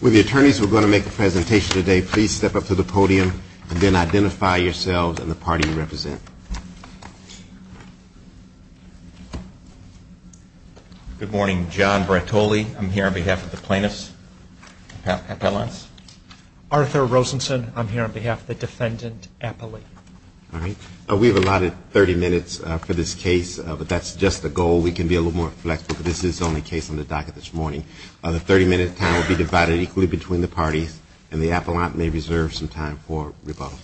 With the attorneys who are going to make the presentation today, please step up to the podium and then identify yourselves and the party you represent. Good morning. John Brattoli. I'm here on behalf of the plaintiffs. Arthur Rosenson. I'm here on behalf of the defendant, Appley. We've allotted 30 minutes for this case, but that's just the goal. We can be a little more flexible, but this is the only case on the docket this morning. The 30-minute time will be divided equally between the parties, and the appellant may reserve some time for rebuttal.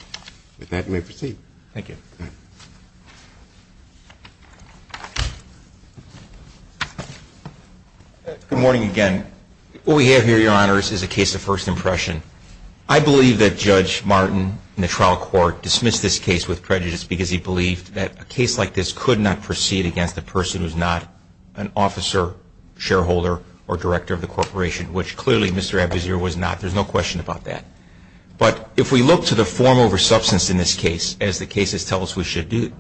With that, you may proceed. Thank you. Good morning again. What we have here, Your Honors, is a case of first impression. I believe that Judge Martin in the trial court dismissed this case with prejudice because he believed that a case like this could not proceed against a person who's not an officer, shareholder, or director of the corporation, which clearly Mr. Abuzir was not. There's no question about that. But if we look to the form over substance in this case, as the cases tell us we should do,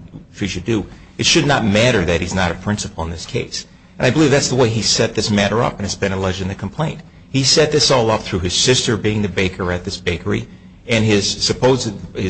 it should not matter that he's not a principal in this case. And I believe that's the way he set this matter up, and it's been alleged in the complaint. He set this all up through his sister being the baker at this bakery, and his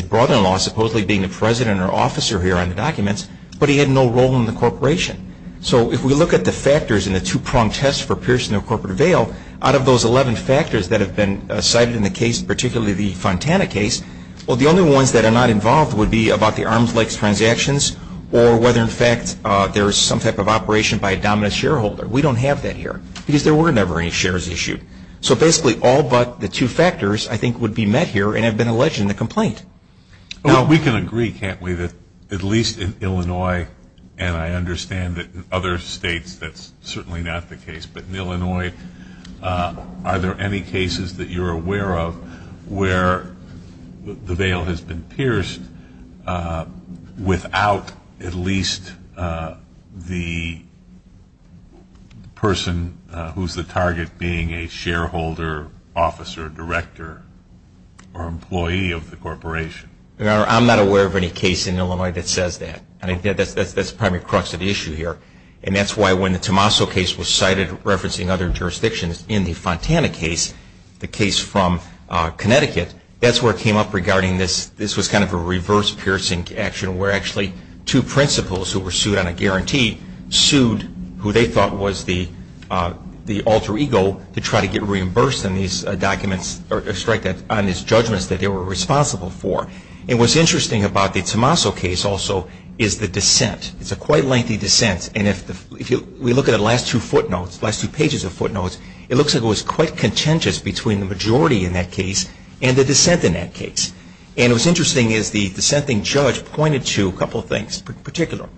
brother-in-law supposedly being the president or officer here on the documents, but he had no role in the corporation. So if we look at the factors in the two-pronged test for Pearson or Corporate Avail, out of those 11 factors that have been cited in the case, particularly the Fontana case, well, the only ones that are not involved would be about the Arms Lakes transactions or whether, in fact, there is some type of operation by a dominant shareholder. We don't have that here because there were never any shares issued. So basically, all but the two factors, I think, would be met here and have been alleged in the complaint. Well, we can agree, can't we, that at least in Illinois, and I understand that in other states that's certainly not the case, but in Illinois, are there any cases that you're aware of where the veil has been pierced without at least the person who's the target being a shareholder, officer, director, or employee of the corporation? Your Honor, I'm not aware of any case in Illinois that says that. I think that's the primary crux of the issue here, and that's why when the Tommaso case was cited referencing other jurisdictions in the Fontana case, the case from Connecticut, that's where it came up regarding this. This was kind of a reverse piercing action where actually two principals who were sued on a guarantee who they thought was the alter ego to try to get reimbursed on these documents or strike on these judgments that they were responsible for. And what's interesting about the Tommaso case also is the dissent. It's a quite lengthy dissent, and if we look at the last two footnotes, last two pages of footnotes, it looks like it was quite contentious between the majority in that case and the dissent in that case. And what's interesting is the dissenting judge pointed to a couple of things in particular.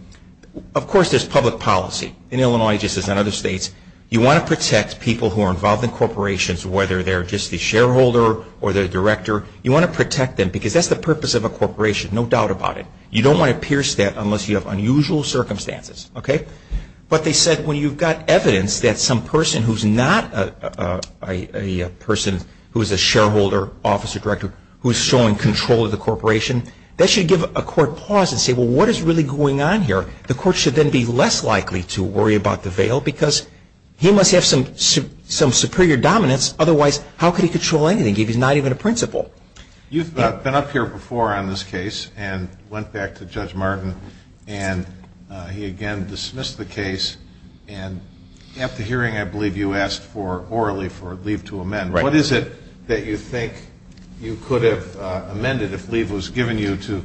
Of course, there's public policy in Illinois just as in other states. You want to protect people who are involved in corporations, whether they're just the shareholder or the director. You want to protect them because that's the purpose of a corporation, no doubt about it. You don't want to pierce that unless you have unusual circumstances, okay? But they said when you've got evidence that some person who's not a person who is a shareholder, officer, director, who is showing control of the corporation, that should give a court pause and say, well, what is really going on here? The court should then be less likely to worry about the veil because he must have some superior dominance. Otherwise, how could he control anything if he's not even a principal? You've been up here before on this case and went back to Judge Martin, and he again dismissed the case. And at the hearing, I believe you asked for, orally, for leave to amend. Right. What is it that you think you could have amended if leave was given you to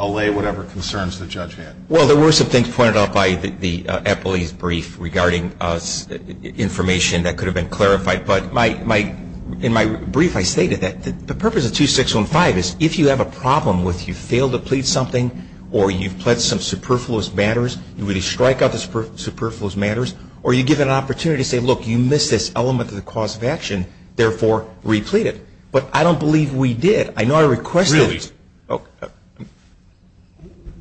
allay whatever concerns the judge had? Well, there were some things pointed out by the Eppley's brief regarding information that could have been clarified. But in my brief, I stated that the purpose of 2615 is if you have a problem with you fail to plead something or you've pledged some superfluous matters, you really strike out the superfluous matters, or you give an opportunity to say, look, you missed this element of the cause of action, therefore, replete it. But I don't believe we did. I know I requested it. Really?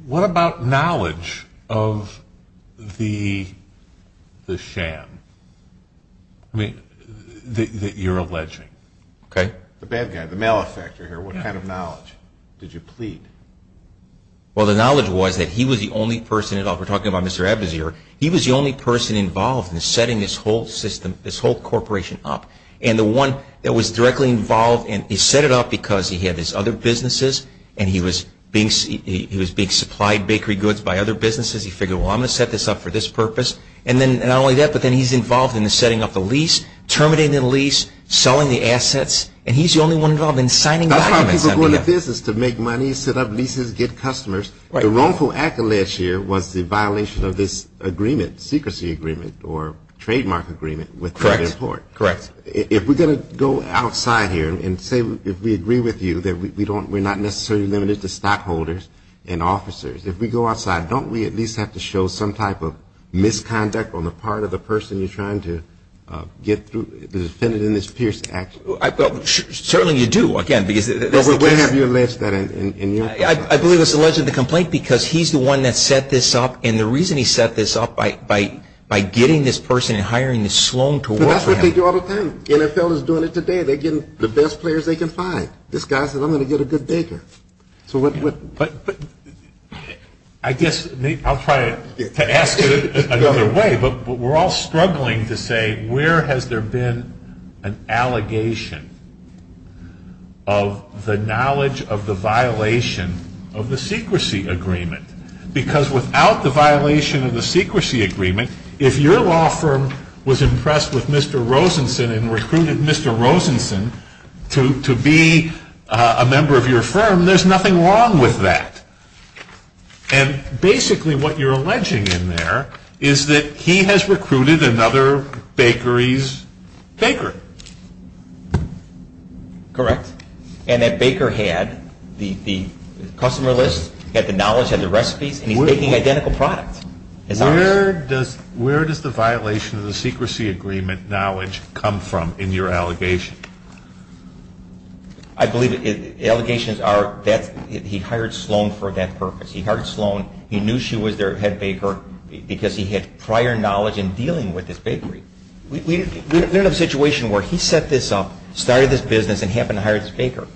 What about knowledge of the sham that you're alleging? Okay. The bad guy, the malefactor here. What kind of knowledge did you plead? Well, the knowledge was that he was the only person at all. We're talking about Mr. Abduzir. He was the only person involved in setting this whole system, this whole corporation up. And the one that was directly involved, and he set it up because he had his other businesses, and he was being supplied bakery goods by other businesses. He figured, well, I'm going to set this up for this purpose. And then not only that, but then he's involved in the setting up the lease, terminating the lease, selling the assets. And he's the only one involved in signing documents. That's how people go into business, to make money, set up leases, get customers. The wrongful act alleged here was the violation of this agreement, secrecy agreement, or trademark agreement. Correct. If we're going to go outside here and say if we agree with you that we're not necessarily limited to stockholders and officers, if we go outside, don't we at least have to show some type of misconduct on the part of the person you're trying to get through, the defendant in this Pierce Act? Certainly you do, again, because that's the case. When have you alleged that? I believe it's alleged in the complaint because he's the one that set this up. And the reason he set this up, by getting this person and hiring this sloan to work for him. That's what they do all the time. The NFL is doing it today. They're getting the best players they can find. This guy says, I'm going to get a good baker. So what? I guess I'll try to ask it another way. But we're all struggling to say where has there been an allegation of the knowledge of the violation of the secrecy agreement? Because without the violation of the secrecy agreement, if your law firm was impressed with Mr. Rosenson and recruited Mr. Rosenson to be a member of your firm, there's nothing wrong with that. And basically what you're alleging in there is that he has recruited another bakery's baker. Correct. And that baker had the customer list, had the knowledge, had the recipes, and he's making identical products. Where does the violation of the secrecy agreement knowledge come from in your allegation? I believe the allegations are that he hired Sloan for that purpose. He hired Sloan. He knew she was their head baker because he had prior knowledge in dealing with this bakery. We're in a situation where he set this up, started this business, and happened to hire this baker.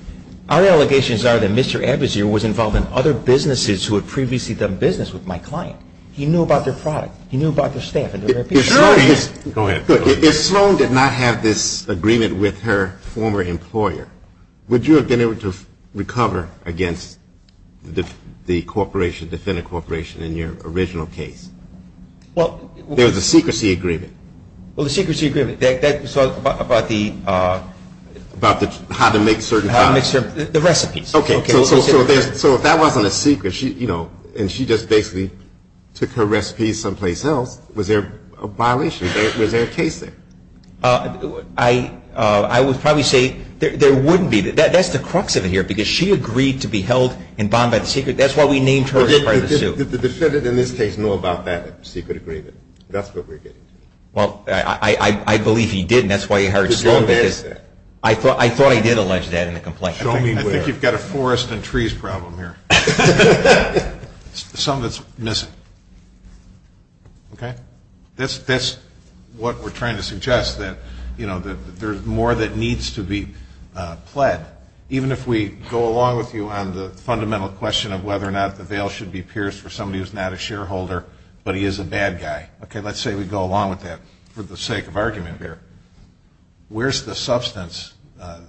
Our allegations are that Mr. Abusier was involved in other businesses who had previously done business with my client. He knew about their product. He knew about their staff. Go ahead. If Sloan did not have this agreement with her former employer, would you have been able to recover against the corporation, defendant corporation, in your original case? There was a secrecy agreement. Well, the secrecy agreement, that was about the ‑‑ About how to make certain products. The recipes. Okay. So if that wasn't a secret, and she just basically took her recipes someplace else, was there a violation? Was there a case there? I would probably say there wouldn't be. That's the crux of it here, because she agreed to be held in bond by the secret. That's why we named her as part of the suit. Did the defendant in this case know about that secret agreement? That's what we're getting. Well, I believe he did, and that's why he hired Sloan. I thought I did allege that in the complaint. I think you've got a forest and trees problem here. Something that's missing. Okay? That's what we're trying to suggest, that there's more that needs to be pled, even if we go along with you on the fundamental question of whether or not the veil should be pierced for somebody who's not a shareholder, but he is a bad guy. Okay, let's say we go along with that for the sake of argument here. Where's the substance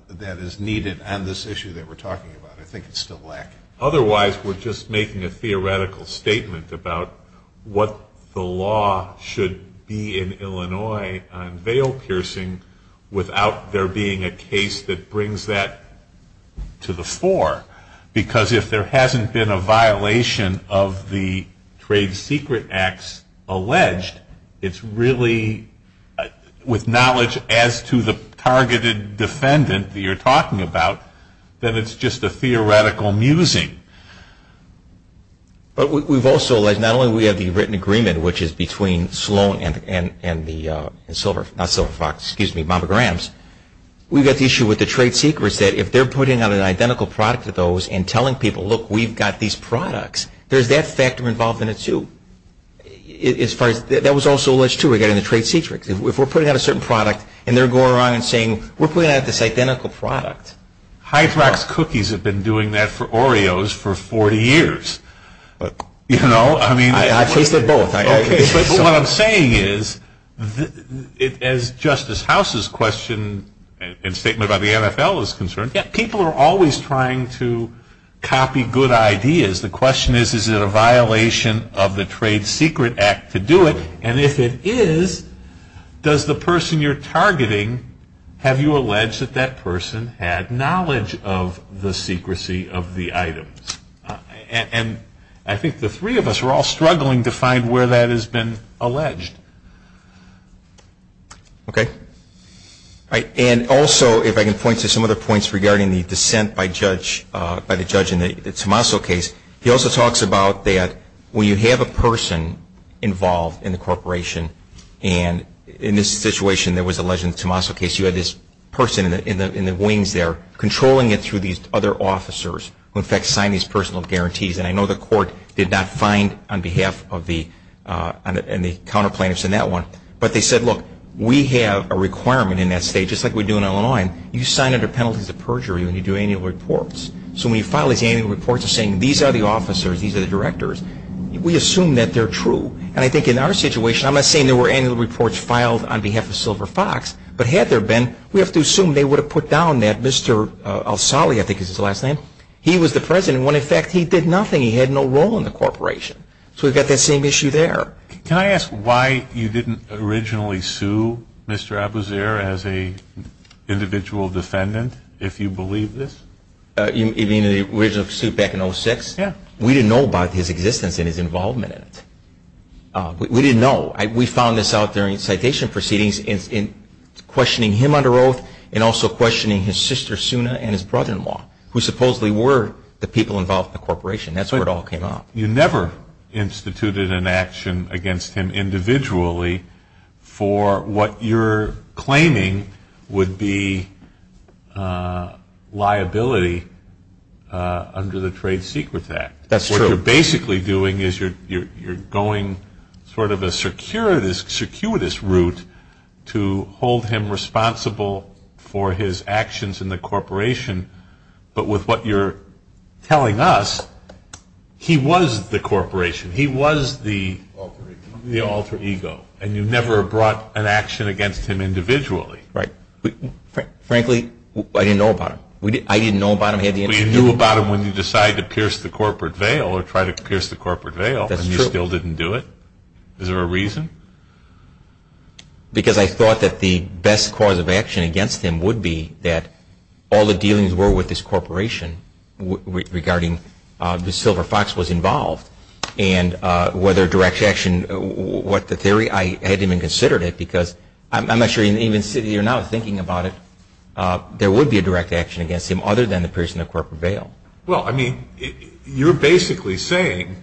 that is needed on this issue that we're talking about? I think it's still lacking. Otherwise, we're just making a theoretical statement about what the law should be in Illinois on veil piercing without there being a case that brings that to the fore, because if there hasn't been a violation of the trade secret acts alleged, it's really with knowledge as to the targeted defendant that you're talking about, then it's just a theoretical musing. But we've also, not only do we have the written agreement, which is between Sloan and the Silver Fox, excuse me, Mama Graham's, we've got the issue with the trade secrets, that if they're putting out an identical product to those and telling people, look, we've got these products, there's that factor involved in it, too. That was also alleged, too, regarding the trade secrets. If we're putting out a certain product and they're going around and saying, we're putting out this identical product. Hydrox cookies have been doing that for Oreos for 40 years. I've tasted both. What I'm saying is, as Justice House's question and statement about the NFL is concerned, people are always trying to copy good ideas. The question is, is it a violation of the trade secret act to do it? And if it is, does the person you're targeting, have you alleged that that person had knowledge of the secrecy of the items? And I think the three of us are all struggling to find where that has been alleged. Okay. And also, if I can point to some other points regarding the dissent by the judge in the Tommaso case, he also talks about that when you have a person involved in the corporation, and in this situation there was alleged in the Tommaso case, you had this person in the wings there controlling it through these other officers, who in fact signed these personal guarantees. And I know the court did not find on behalf of the counter plaintiffs in that one. But they said, look, we have a requirement in that state, just like we do in Illinois, you sign under penalties of perjury when you do annual reports. So when you file these annual reports, you're saying these are the officers, these are the directors. We assume that they're true. And I think in our situation, I'm not saying there were annual reports filed on behalf of Silver Fox, but had there been, we have to assume they would have put down that Mr. Alsali, I think is his last name, he was the president when in fact he did nothing, he had no role in the corporation. So we've got that same issue there. Can I ask why you didn't originally sue Mr. Abuzir as an individual defendant, if you believe this? You mean the original suit back in 2006? Yeah. We didn't know about his existence and his involvement in it. We didn't know. We found this out during citation proceedings in questioning him under oath and also questioning his sister, Suna, and his brother-in-law, who supposedly were the people involved in the corporation. That's where it all came up. You never instituted an action against him individually for what you're claiming would be liability under the Trade Secrets Act. That's true. What you're basically doing is you're going sort of a circuitous route to hold him responsible for his actions in the corporation, but with what you're telling us, he was the corporation, he was the alter ego, and you never brought an action against him individually. Right. Frankly, I didn't know about him. I didn't know about him. You knew about him when you decided to pierce the corporate veil or tried to pierce the corporate veil, and you still didn't do it? Is there a reason? Because I thought that the best cause of action against him would be that all the dealings were with this corporation regarding the Silver Fox was involved, and whether direct action, what the theory, I hadn't even considered it because I'm not sure even sitting here now thinking about it, there would be a direct action against him other than the piercing the corporate veil. Well, I mean, you're basically saying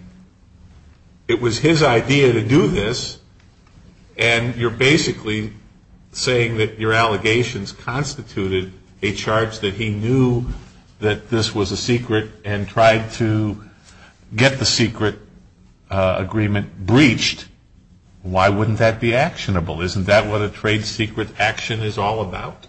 it was his idea to do this, and you're basically saying that your allegations constituted a charge that he knew that this was a secret and tried to get the secret agreement breached. Why wouldn't that be actionable? Isn't that what a trade secret action is all about?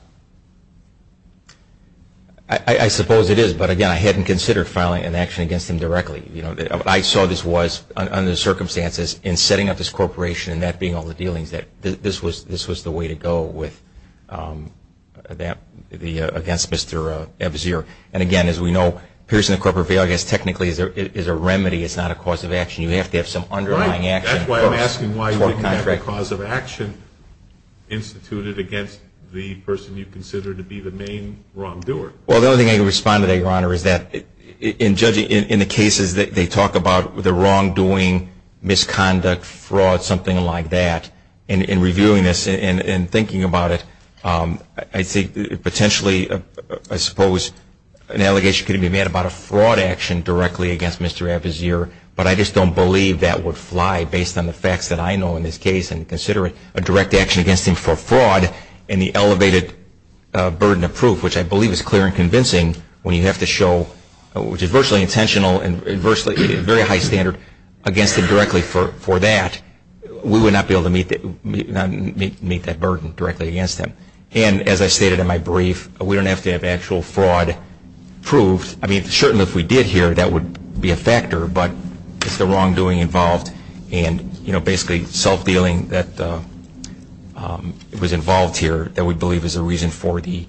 I suppose it is, but, again, I hadn't considered filing an action against him directly. What I saw this was, under the circumstances, in setting up this corporation and that being all the dealings, that this was the way to go against Mr. Ebzer. And, again, as we know, piercing the corporate veil, I guess, technically is a remedy. It's not a cause of action. You have to have some underlying action. That's why I'm asking why you would have a cause of action instituted against the person you consider to be the main wrongdoer. Well, the only thing I can respond to that, Your Honor, is that in judging, in the cases that they talk about the wrongdoing, misconduct, fraud, something like that, and reviewing this and thinking about it, I think potentially, I suppose, an allegation could be made about a fraud action directly against Mr. Ebzer, but I just don't believe that would fly based on the facts that I know in this case and considering a direct action against him for fraud and the elevated burden of proof, which I believe is clear and convincing, when you have to show, which is virtually intentional and very high standard, against him directly for that, we would not be able to meet that burden directly against him. And, as I stated in my brief, we don't have to have actual fraud proved. I mean, certainly if we did here, that would be a factor, but it's the wrongdoing involved and basically self-dealing that was involved here that we believe is a reason for the,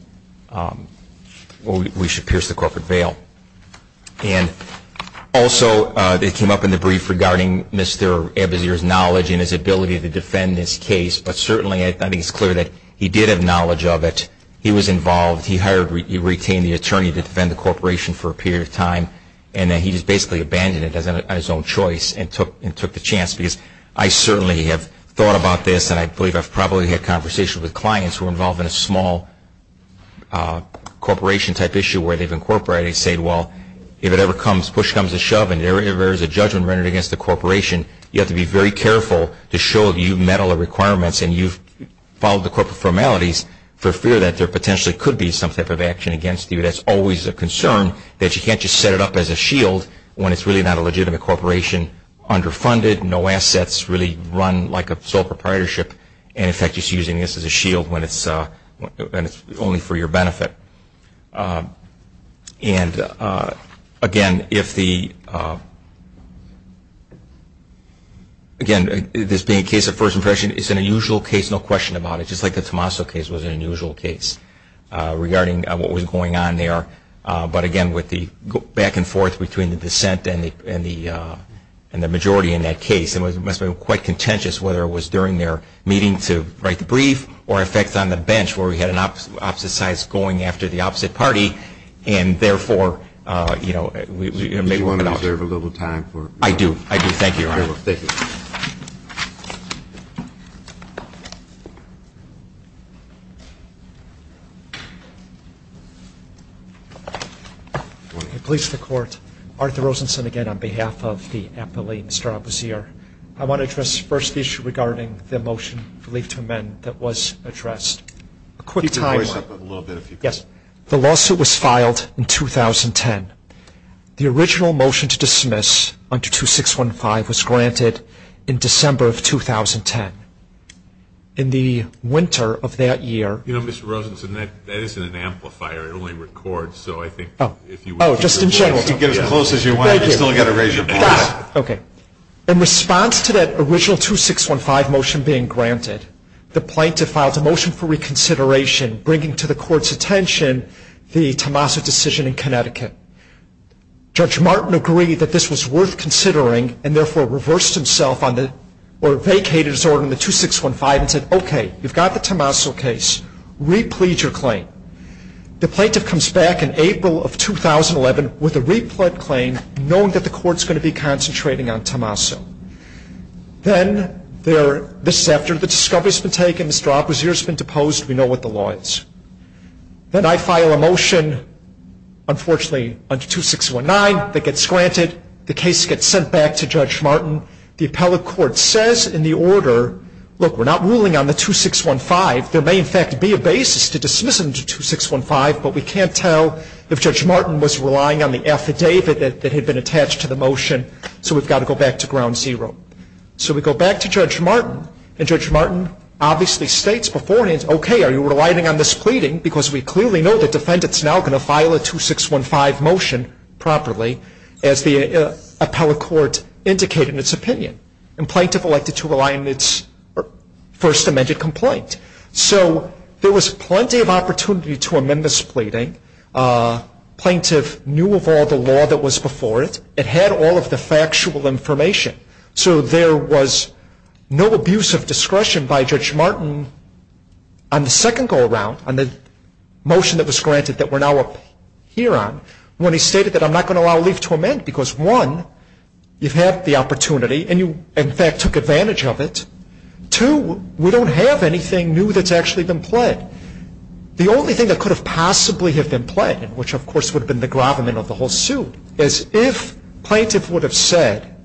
we should pierce the corporate veil. And also, it came up in the brief regarding Mr. Ebzer's knowledge and his ability to defend this case, but certainly I think it's clear that he did have knowledge of it. He was involved. He hired, he retained the attorney to defend the corporation for a period of time and then he just basically abandoned it as his own choice and took the chance because I certainly have thought about this and I believe I've probably had conversations with clients who were involved in a small corporation-type issue where they've incorporated and said, well, if it ever comes, push comes to shove and there is a judgment rendered against the corporation, you have to be very careful to show that you met all the requirements and you've followed the corporate formalities for fear that there potentially could be some type of action against you. That's always a concern that you can't just set it up as a shield when it's really not a legitimate corporation, underfunded, no assets, really run like a sole proprietorship and, in fact, just using this as a shield when it's only for your benefit. And, again, if the, again, this being a case of first impression, it's an unusual case, no question about it, just like the Tommaso case was an unusual case regarding what was going on there. But, again, with the back and forth between the dissent and the majority in that case, it must have been quite contentious whether it was during their meeting to write the brief or, in fact, on the bench where we had an opposite side going after the opposite party and, therefore, we may want to reserve a little time for it. I do, I do. Thank you, Your Honor. Thank you. I please the Court. Arthur Rosenson again on behalf of the appellee, Mr. Abusir. I want to address the first issue regarding the motion for leave to amend that was addressed. A quick timeline. Keep your voice up a little bit if you could. Yes. The lawsuit was filed in 2010. The original motion to dismiss under 2615 was granted in December of 2010. In the winter of that year. You know, Mr. Rosenson, that isn't an amplifier. It only records, so I think if you would keep your voice up. Oh, just in general. If you get as close as you want, you still got to raise your voice. Got it. Okay. In response to that original 2615 motion being granted, the plaintiff filed a motion for reconsideration, bringing to the Court's attention the Tommaso decision in Connecticut. Judge Martin agreed that this was worth considering, and therefore reversed himself on the, or vacated his order on the 2615 and said, okay, you've got the Tommaso case. Re-plead your claim. The plaintiff comes back in April of 2011 with a re-plead claim, knowing that the Court's going to be concentrating on Tommaso. Then there, this is after the discovery's been taken, Mr. Oppositor's been deposed, we know what the law is. Then I file a motion, unfortunately, under 2619 that gets granted. The case gets sent back to Judge Martin. The appellate court says in the order, look, we're not ruling on the 2615. There may, in fact, be a basis to dismiss under 2615, but we can't tell if Judge Martin was relying on the affidavit that had been ground zero. So we go back to Judge Martin, and Judge Martin obviously states beforehand, okay, are you relying on this pleading, because we clearly know the defendant's now going to file a 2615 motion properly, as the appellate court indicated in its opinion. And plaintiff elected to rely on its first amended complaint. So there was plenty of opportunity to amend this pleading. Plaintiff knew of all the law that was before it. It had all of the factual information. So there was no abuse of discretion by Judge Martin on the second go-around, on the motion that was granted that we're now up here on, when he stated that I'm not going to allow leave to amend, because one, you've had the opportunity, and you, in fact, took advantage of it. Two, we don't have anything new that's actually been pled. The only thing that could have possibly have been pled, which of course would have been the gravamen of the whole suit, is if plaintiff would have said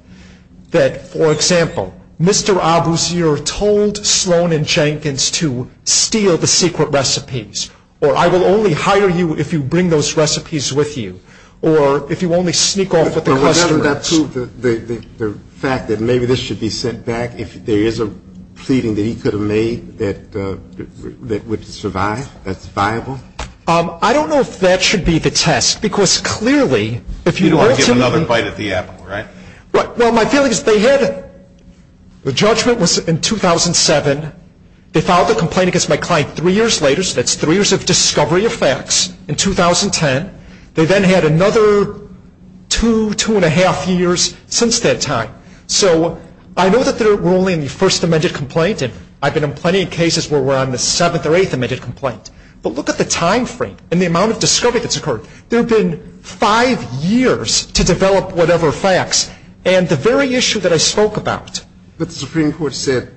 that, for example, Mr. Abusier told Sloan and Jenkins to steal the secret recipes, or I will only hire you if you bring those recipes with you, or if you only sneak off with the customers. But would that prove the fact that maybe this should be sent back, if there is a pleading that he could have made that would survive, that's viable? I don't know if that should be the test, because clearly if you ultimately You don't want to give another bite at the apple, right? Well, my feeling is they had, the judgment was in 2007. They filed the complaint against my client three years later, so that's three years of discovery of facts, in 2010. They then had another two, two and a half years since that time. So I know that they're ruling the first amended complaint, and I've been in plenty of cases where we're on the seventh or eighth amended complaint. But look at the time frame and the amount of discovery that's occurred. There have been five years to develop whatever facts, and the very issue that I spoke about. But the Supreme Court said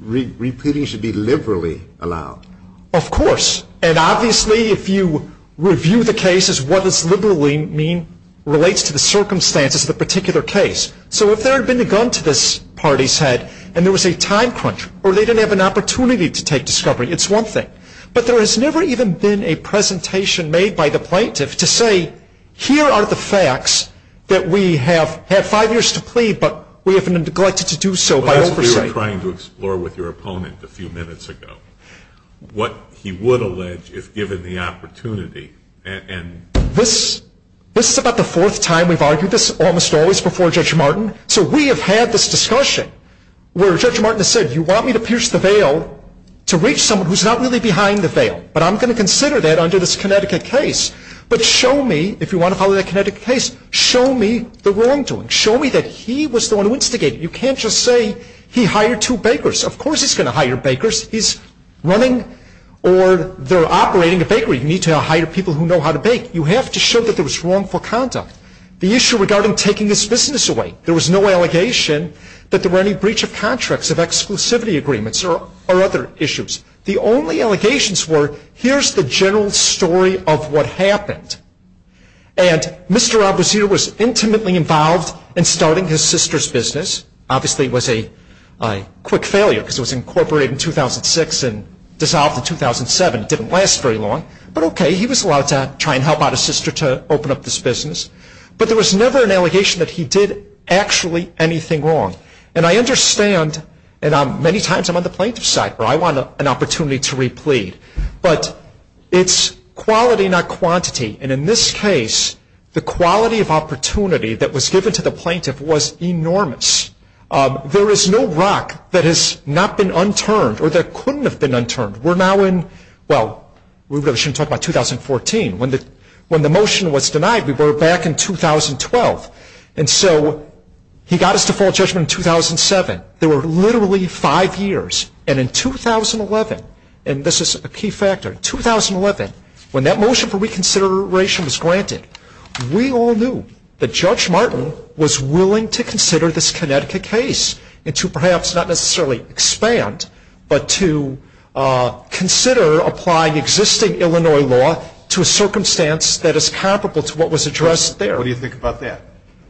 repeating should be liberally allowed. Of course, and obviously if you review the cases, what does liberally mean relates to the circumstances of the particular case. So if there had been a gun to this party's head, and there was a time crunch, or they didn't have an opportunity to take discovery, it's one thing. But there has never even been a presentation made by the plaintiff to say, here are the facts that we have had five years to plead, but we have neglected to do so by oversight. Well, that's what we were trying to explore with your opponent a few minutes ago, what he would allege if given the opportunity. This is about the fourth time we've argued this, almost always before Judge Martin. So we have had this discussion where Judge Martin has said, you want me to pierce the veil to reach someone who's not really behind the veil, but I'm going to consider that under this Connecticut case. But show me, if you want to follow that Connecticut case, show me the wrongdoing. Show me that he was the one who instigated it. You can't just say he hired two bakers. Of course he's going to hire bakers. He's running or they're operating a bakery. You need to hire people who know how to bake. You have to show that there was wrongful conduct. The issue regarding taking this business away, there was no allegation that there were any breach of contracts, of exclusivity agreements, or other issues. The only allegations were, here's the general story of what happened. And Mr. Abusir was intimately involved in starting his sister's business. Obviously it was a quick failure because it was incorporated in 2006 and dissolved in 2007. It didn't last very long. But okay, he was allowed to try and help out his sister to open up this business. But there was never an allegation that he did actually anything wrong. And I understand, and many times I'm on the plaintiff's side where I want an opportunity to replead. But it's quality, not quantity. And in this case, the quality of opportunity that was given to the plaintiff was enormous. There is no rock that has not been unturned or that couldn't have been unturned. We're now in, well, we really shouldn't talk about 2014. When the motion was denied, we were back in 2012. And so he got his default judgment in 2007. There were literally five years. And in 2011, and this is a key factor, in 2011, when that motion for reconsideration was granted, we all knew that Judge Martin was willing to consider this Connecticut case, and to perhaps not necessarily expand, but to consider applying existing Illinois law to a circumstance that is comparable to what was addressed there. What do you think about that?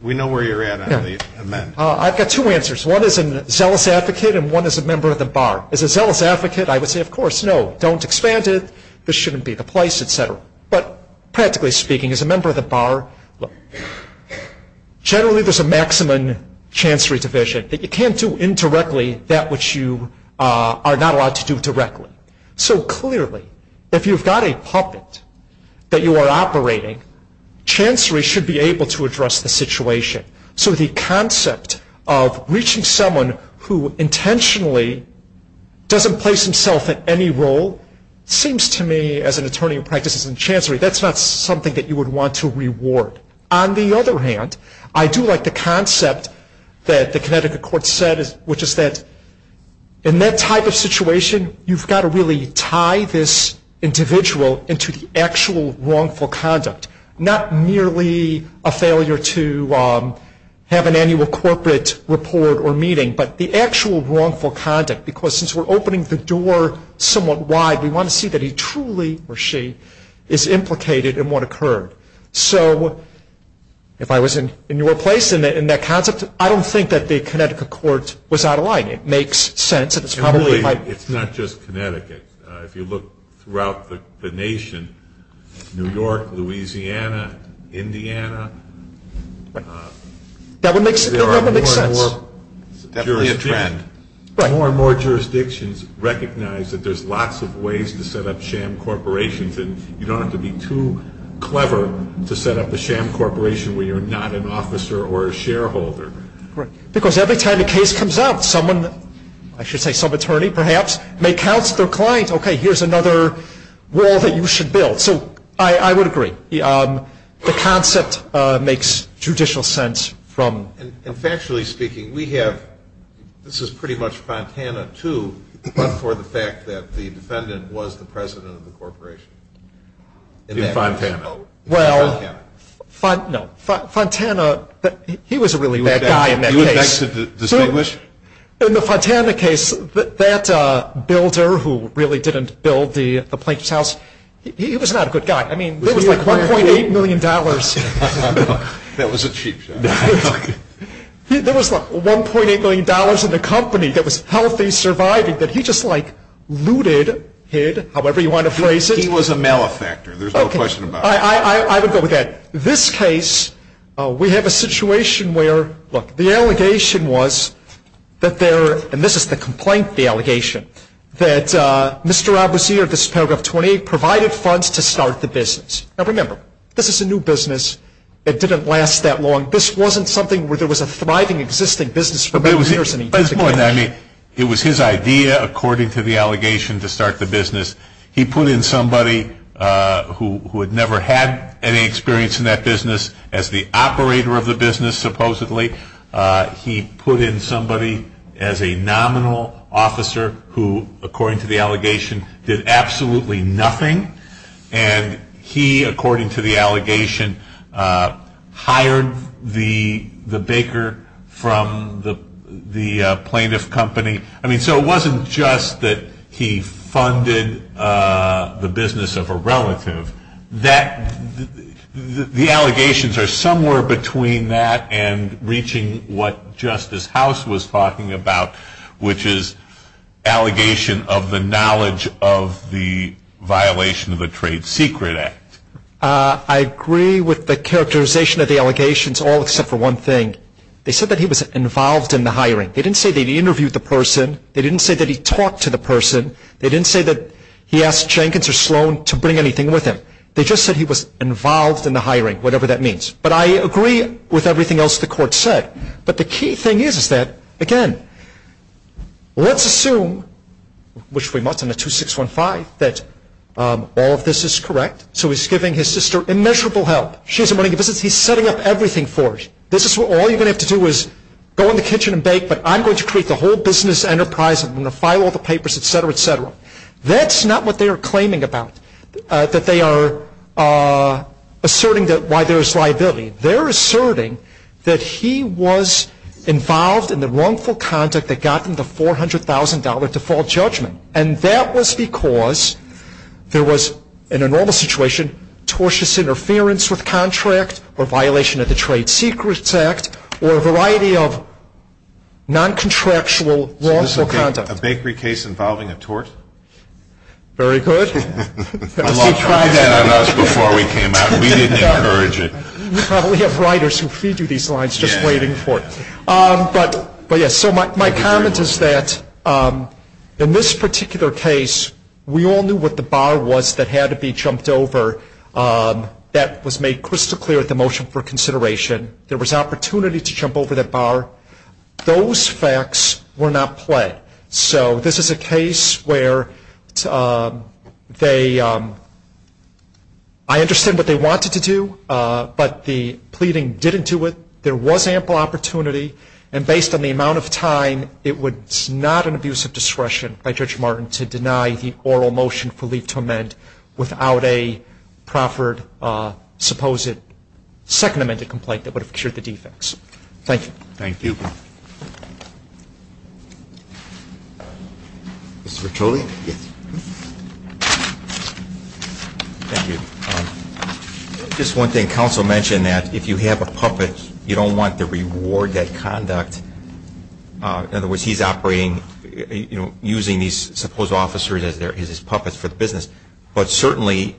We know where you're at on the amendment. I've got two answers. One is a zealous advocate, and one is a member of the bar. As a zealous advocate, I would say, of course, no, don't expand it. This shouldn't be the place, et cetera. But practically speaking, as a member of the bar, generally there's a maximum chancery division. You can't do indirectly that which you are not allowed to do directly. So clearly, if you've got a puppet that you are operating, chancery should be able to address the situation. So the concept of reaching someone who intentionally doesn't place himself in any role seems to me, as an attorney who practices in chancery, that's not something that you would want to reward. On the other hand, I do like the concept that the Connecticut court said, which is that in that type of situation, you've got to really tie this individual into the actual wrongful conduct. Not merely a failure to have an annual corporate report or meeting, but the actual wrongful conduct. Because since we're opening the door somewhat wide, we want to see that he truly, or she, is implicated in what occurred. So if I was in your place in that concept, I don't think that the Connecticut court was out of line. It makes sense. It's not just Connecticut. If you look throughout the nation, New York, Louisiana, Indiana, there are more and more jurisdictions recognize that there's lots of ways to set up sham corporations, and you don't have to be too clever to set up a sham corporation where you're not an officer or a shareholder. Because every time a case comes out, someone, I should say some attorney perhaps, may counsel their client, okay, here's another wall that you should build. So I would agree. The concept makes judicial sense. And factually speaking, we have, this is pretty much Fontana too, but for the fact that the defendant was the president of the corporation. Fontana. Well, no, Fontana, he was a really bad guy in that case. You would like to distinguish? In the Fontana case, that builder who really didn't build the plaintiff's house, he was not a good guy. I mean, it was like $1.8 million. That was a cheap shot. There was like $1.8 million in the company that was healthy, surviving, that he just like looted, hid, however you want to phrase it. He was a malefactor. There's no question about it. I would go with that. This case, we have a situation where, look, the allegation was that there, and this is the complaint, the allegation, that Mr. Abuzir, this is paragraph 28, provided funds to start the business. Now, remember, this is a new business. It didn't last that long. This wasn't something where there was a thriving, existing business for many years. It was his idea, according to the allegation, to start the business. He put in somebody who had never had any experience in that business as the operator of the business, supposedly. He put in somebody as a nominal officer who, according to the allegation, did absolutely nothing, and he, according to the allegation, hired the baker from the plaintiff company. I mean, so it wasn't just that he funded the business of a relative. The allegations are somewhere between that and reaching what Justice House was talking about, which is allegation of the knowledge of the violation of a trade secret act. I agree with the characterization of the allegations, all except for one thing. They said that he was involved in the hiring. They didn't say that he interviewed the person. They didn't say that he talked to the person. They didn't say that he asked Jenkins or Sloan to bring anything with him. They just said he was involved in the hiring, whatever that means. But I agree with everything else the court said. But the key thing is that, again, let's assume, which we must in the 2615, that all of this is correct. So he's giving his sister immeasurable help. She's running the business. He's setting up everything for her. All you're going to have to do is go in the kitchen and bake, but I'm going to create the whole business enterprise. I'm going to file all the papers, et cetera, et cetera. That's not what they are claiming about, that they are asserting why there is liability. They're asserting that he was involved in the wrongful conduct that got him the $400,000 default judgment, and that was because there was, in a normal situation, tortuous interference with contract or violation of the Trade Secrets Act or a variety of noncontractual wrongful conduct. So this is a bakery case involving a tort? Very good. Try that on us before we came out. We didn't encourage it. We probably have writers who feed you these lines just waiting for it. But, yes, so my comment is that in this particular case, we all knew what the bar was that had to be jumped over. That was made crystal clear at the motion for consideration. There was opportunity to jump over that bar. Those facts were not played. So this is a case where they, I understand what they wanted to do, but the pleading didn't do it. There was ample opportunity, and based on the amount of time, it was not an abuse of discretion by Judge Martin to deny the oral motion for leave to amend without a proffered supposed second amended complaint that would have cured the defects. Thank you. Thank you. Mr. Bertoli? Yes. Thank you. Just one thing. Counsel mentioned that if you have a puppet, you don't want to reward that conduct. In other words, he's operating, you know, using these supposed officers as his puppets for the business. But certainly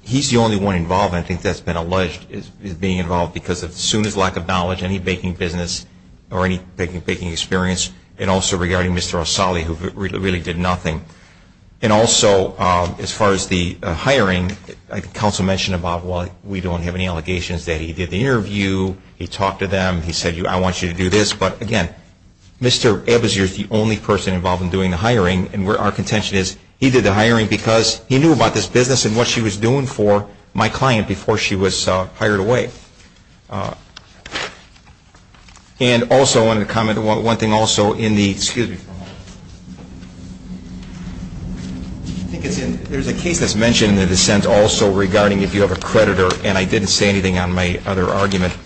he's the only one involved, and I think that's been alleged, is being involved because of Sooner's lack of knowledge, any baking business or any baking experience, and also regarding Mr. O'Sulley, who really did nothing. And also, as far as the hiring, I think counsel mentioned about why we don't have any allegations that he did the interview, he talked to them, he said, I want you to do this. But, again, Mr. Ebbers, you're the only person involved in doing the hiring, and our contention is he did the hiring because he knew about this business and what she was doing for my client before she was hired away. And also I wanted to comment on one thing also in the, excuse me. I think it's in, there's a case that's mentioned in the dissent also regarding if you have a creditor, and I didn't say anything on my other argument,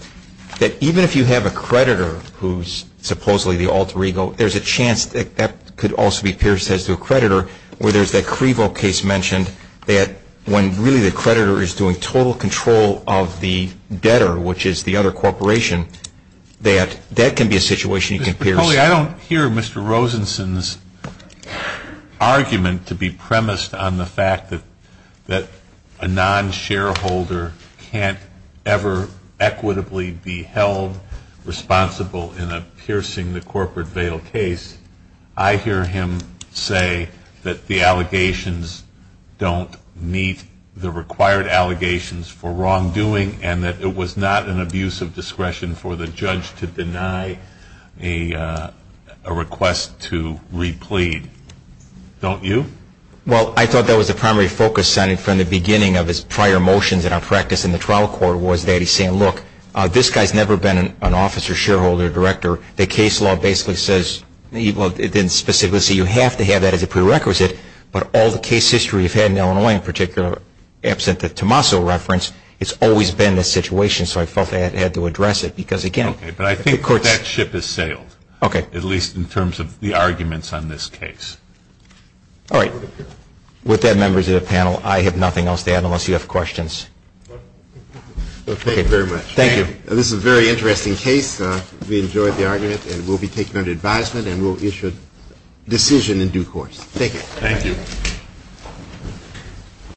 that even if you have a creditor who's supposedly the alter ego, there's a chance that that could also be pierced as to a creditor, where there's that CREVO case mentioned that when really the creditor is doing total control of the debtor, which is the other corporation, that that can be a situation you can pierce. Mr. McCauley, I don't hear Mr. Rosenson's argument to be premised on the fact that a non-shareholder can't ever equitably be held responsible in a piercing the corporate veil case. I hear him say that the allegations don't meet the required allegations for wrongdoing and that it was not an abuse of discretion for the judge to deny a request to replead. Don't you? Well, I thought that was the primary focus from the beginning of his prior motions in our practice in the trial court was that he's saying, look, this guy's never been an officer, shareholder, director. The case law basically says, well, it didn't specifically say you have to have that as a prerequisite, but all the case history we've had in Illinois, in particular, absent the Tommaso reference, it's always been this situation, so I felt they had to address it because, again... Okay, but I think that ship has sailed. Okay. At least in terms of the arguments on this case. All right. With that, members of the panel, I have nothing else to add unless you have questions. Thank you very much. Thank you. This is a very interesting case. We enjoyed the argument and we'll be taking it under advisement and we'll issue a decision in due course. Thank you. Thank you.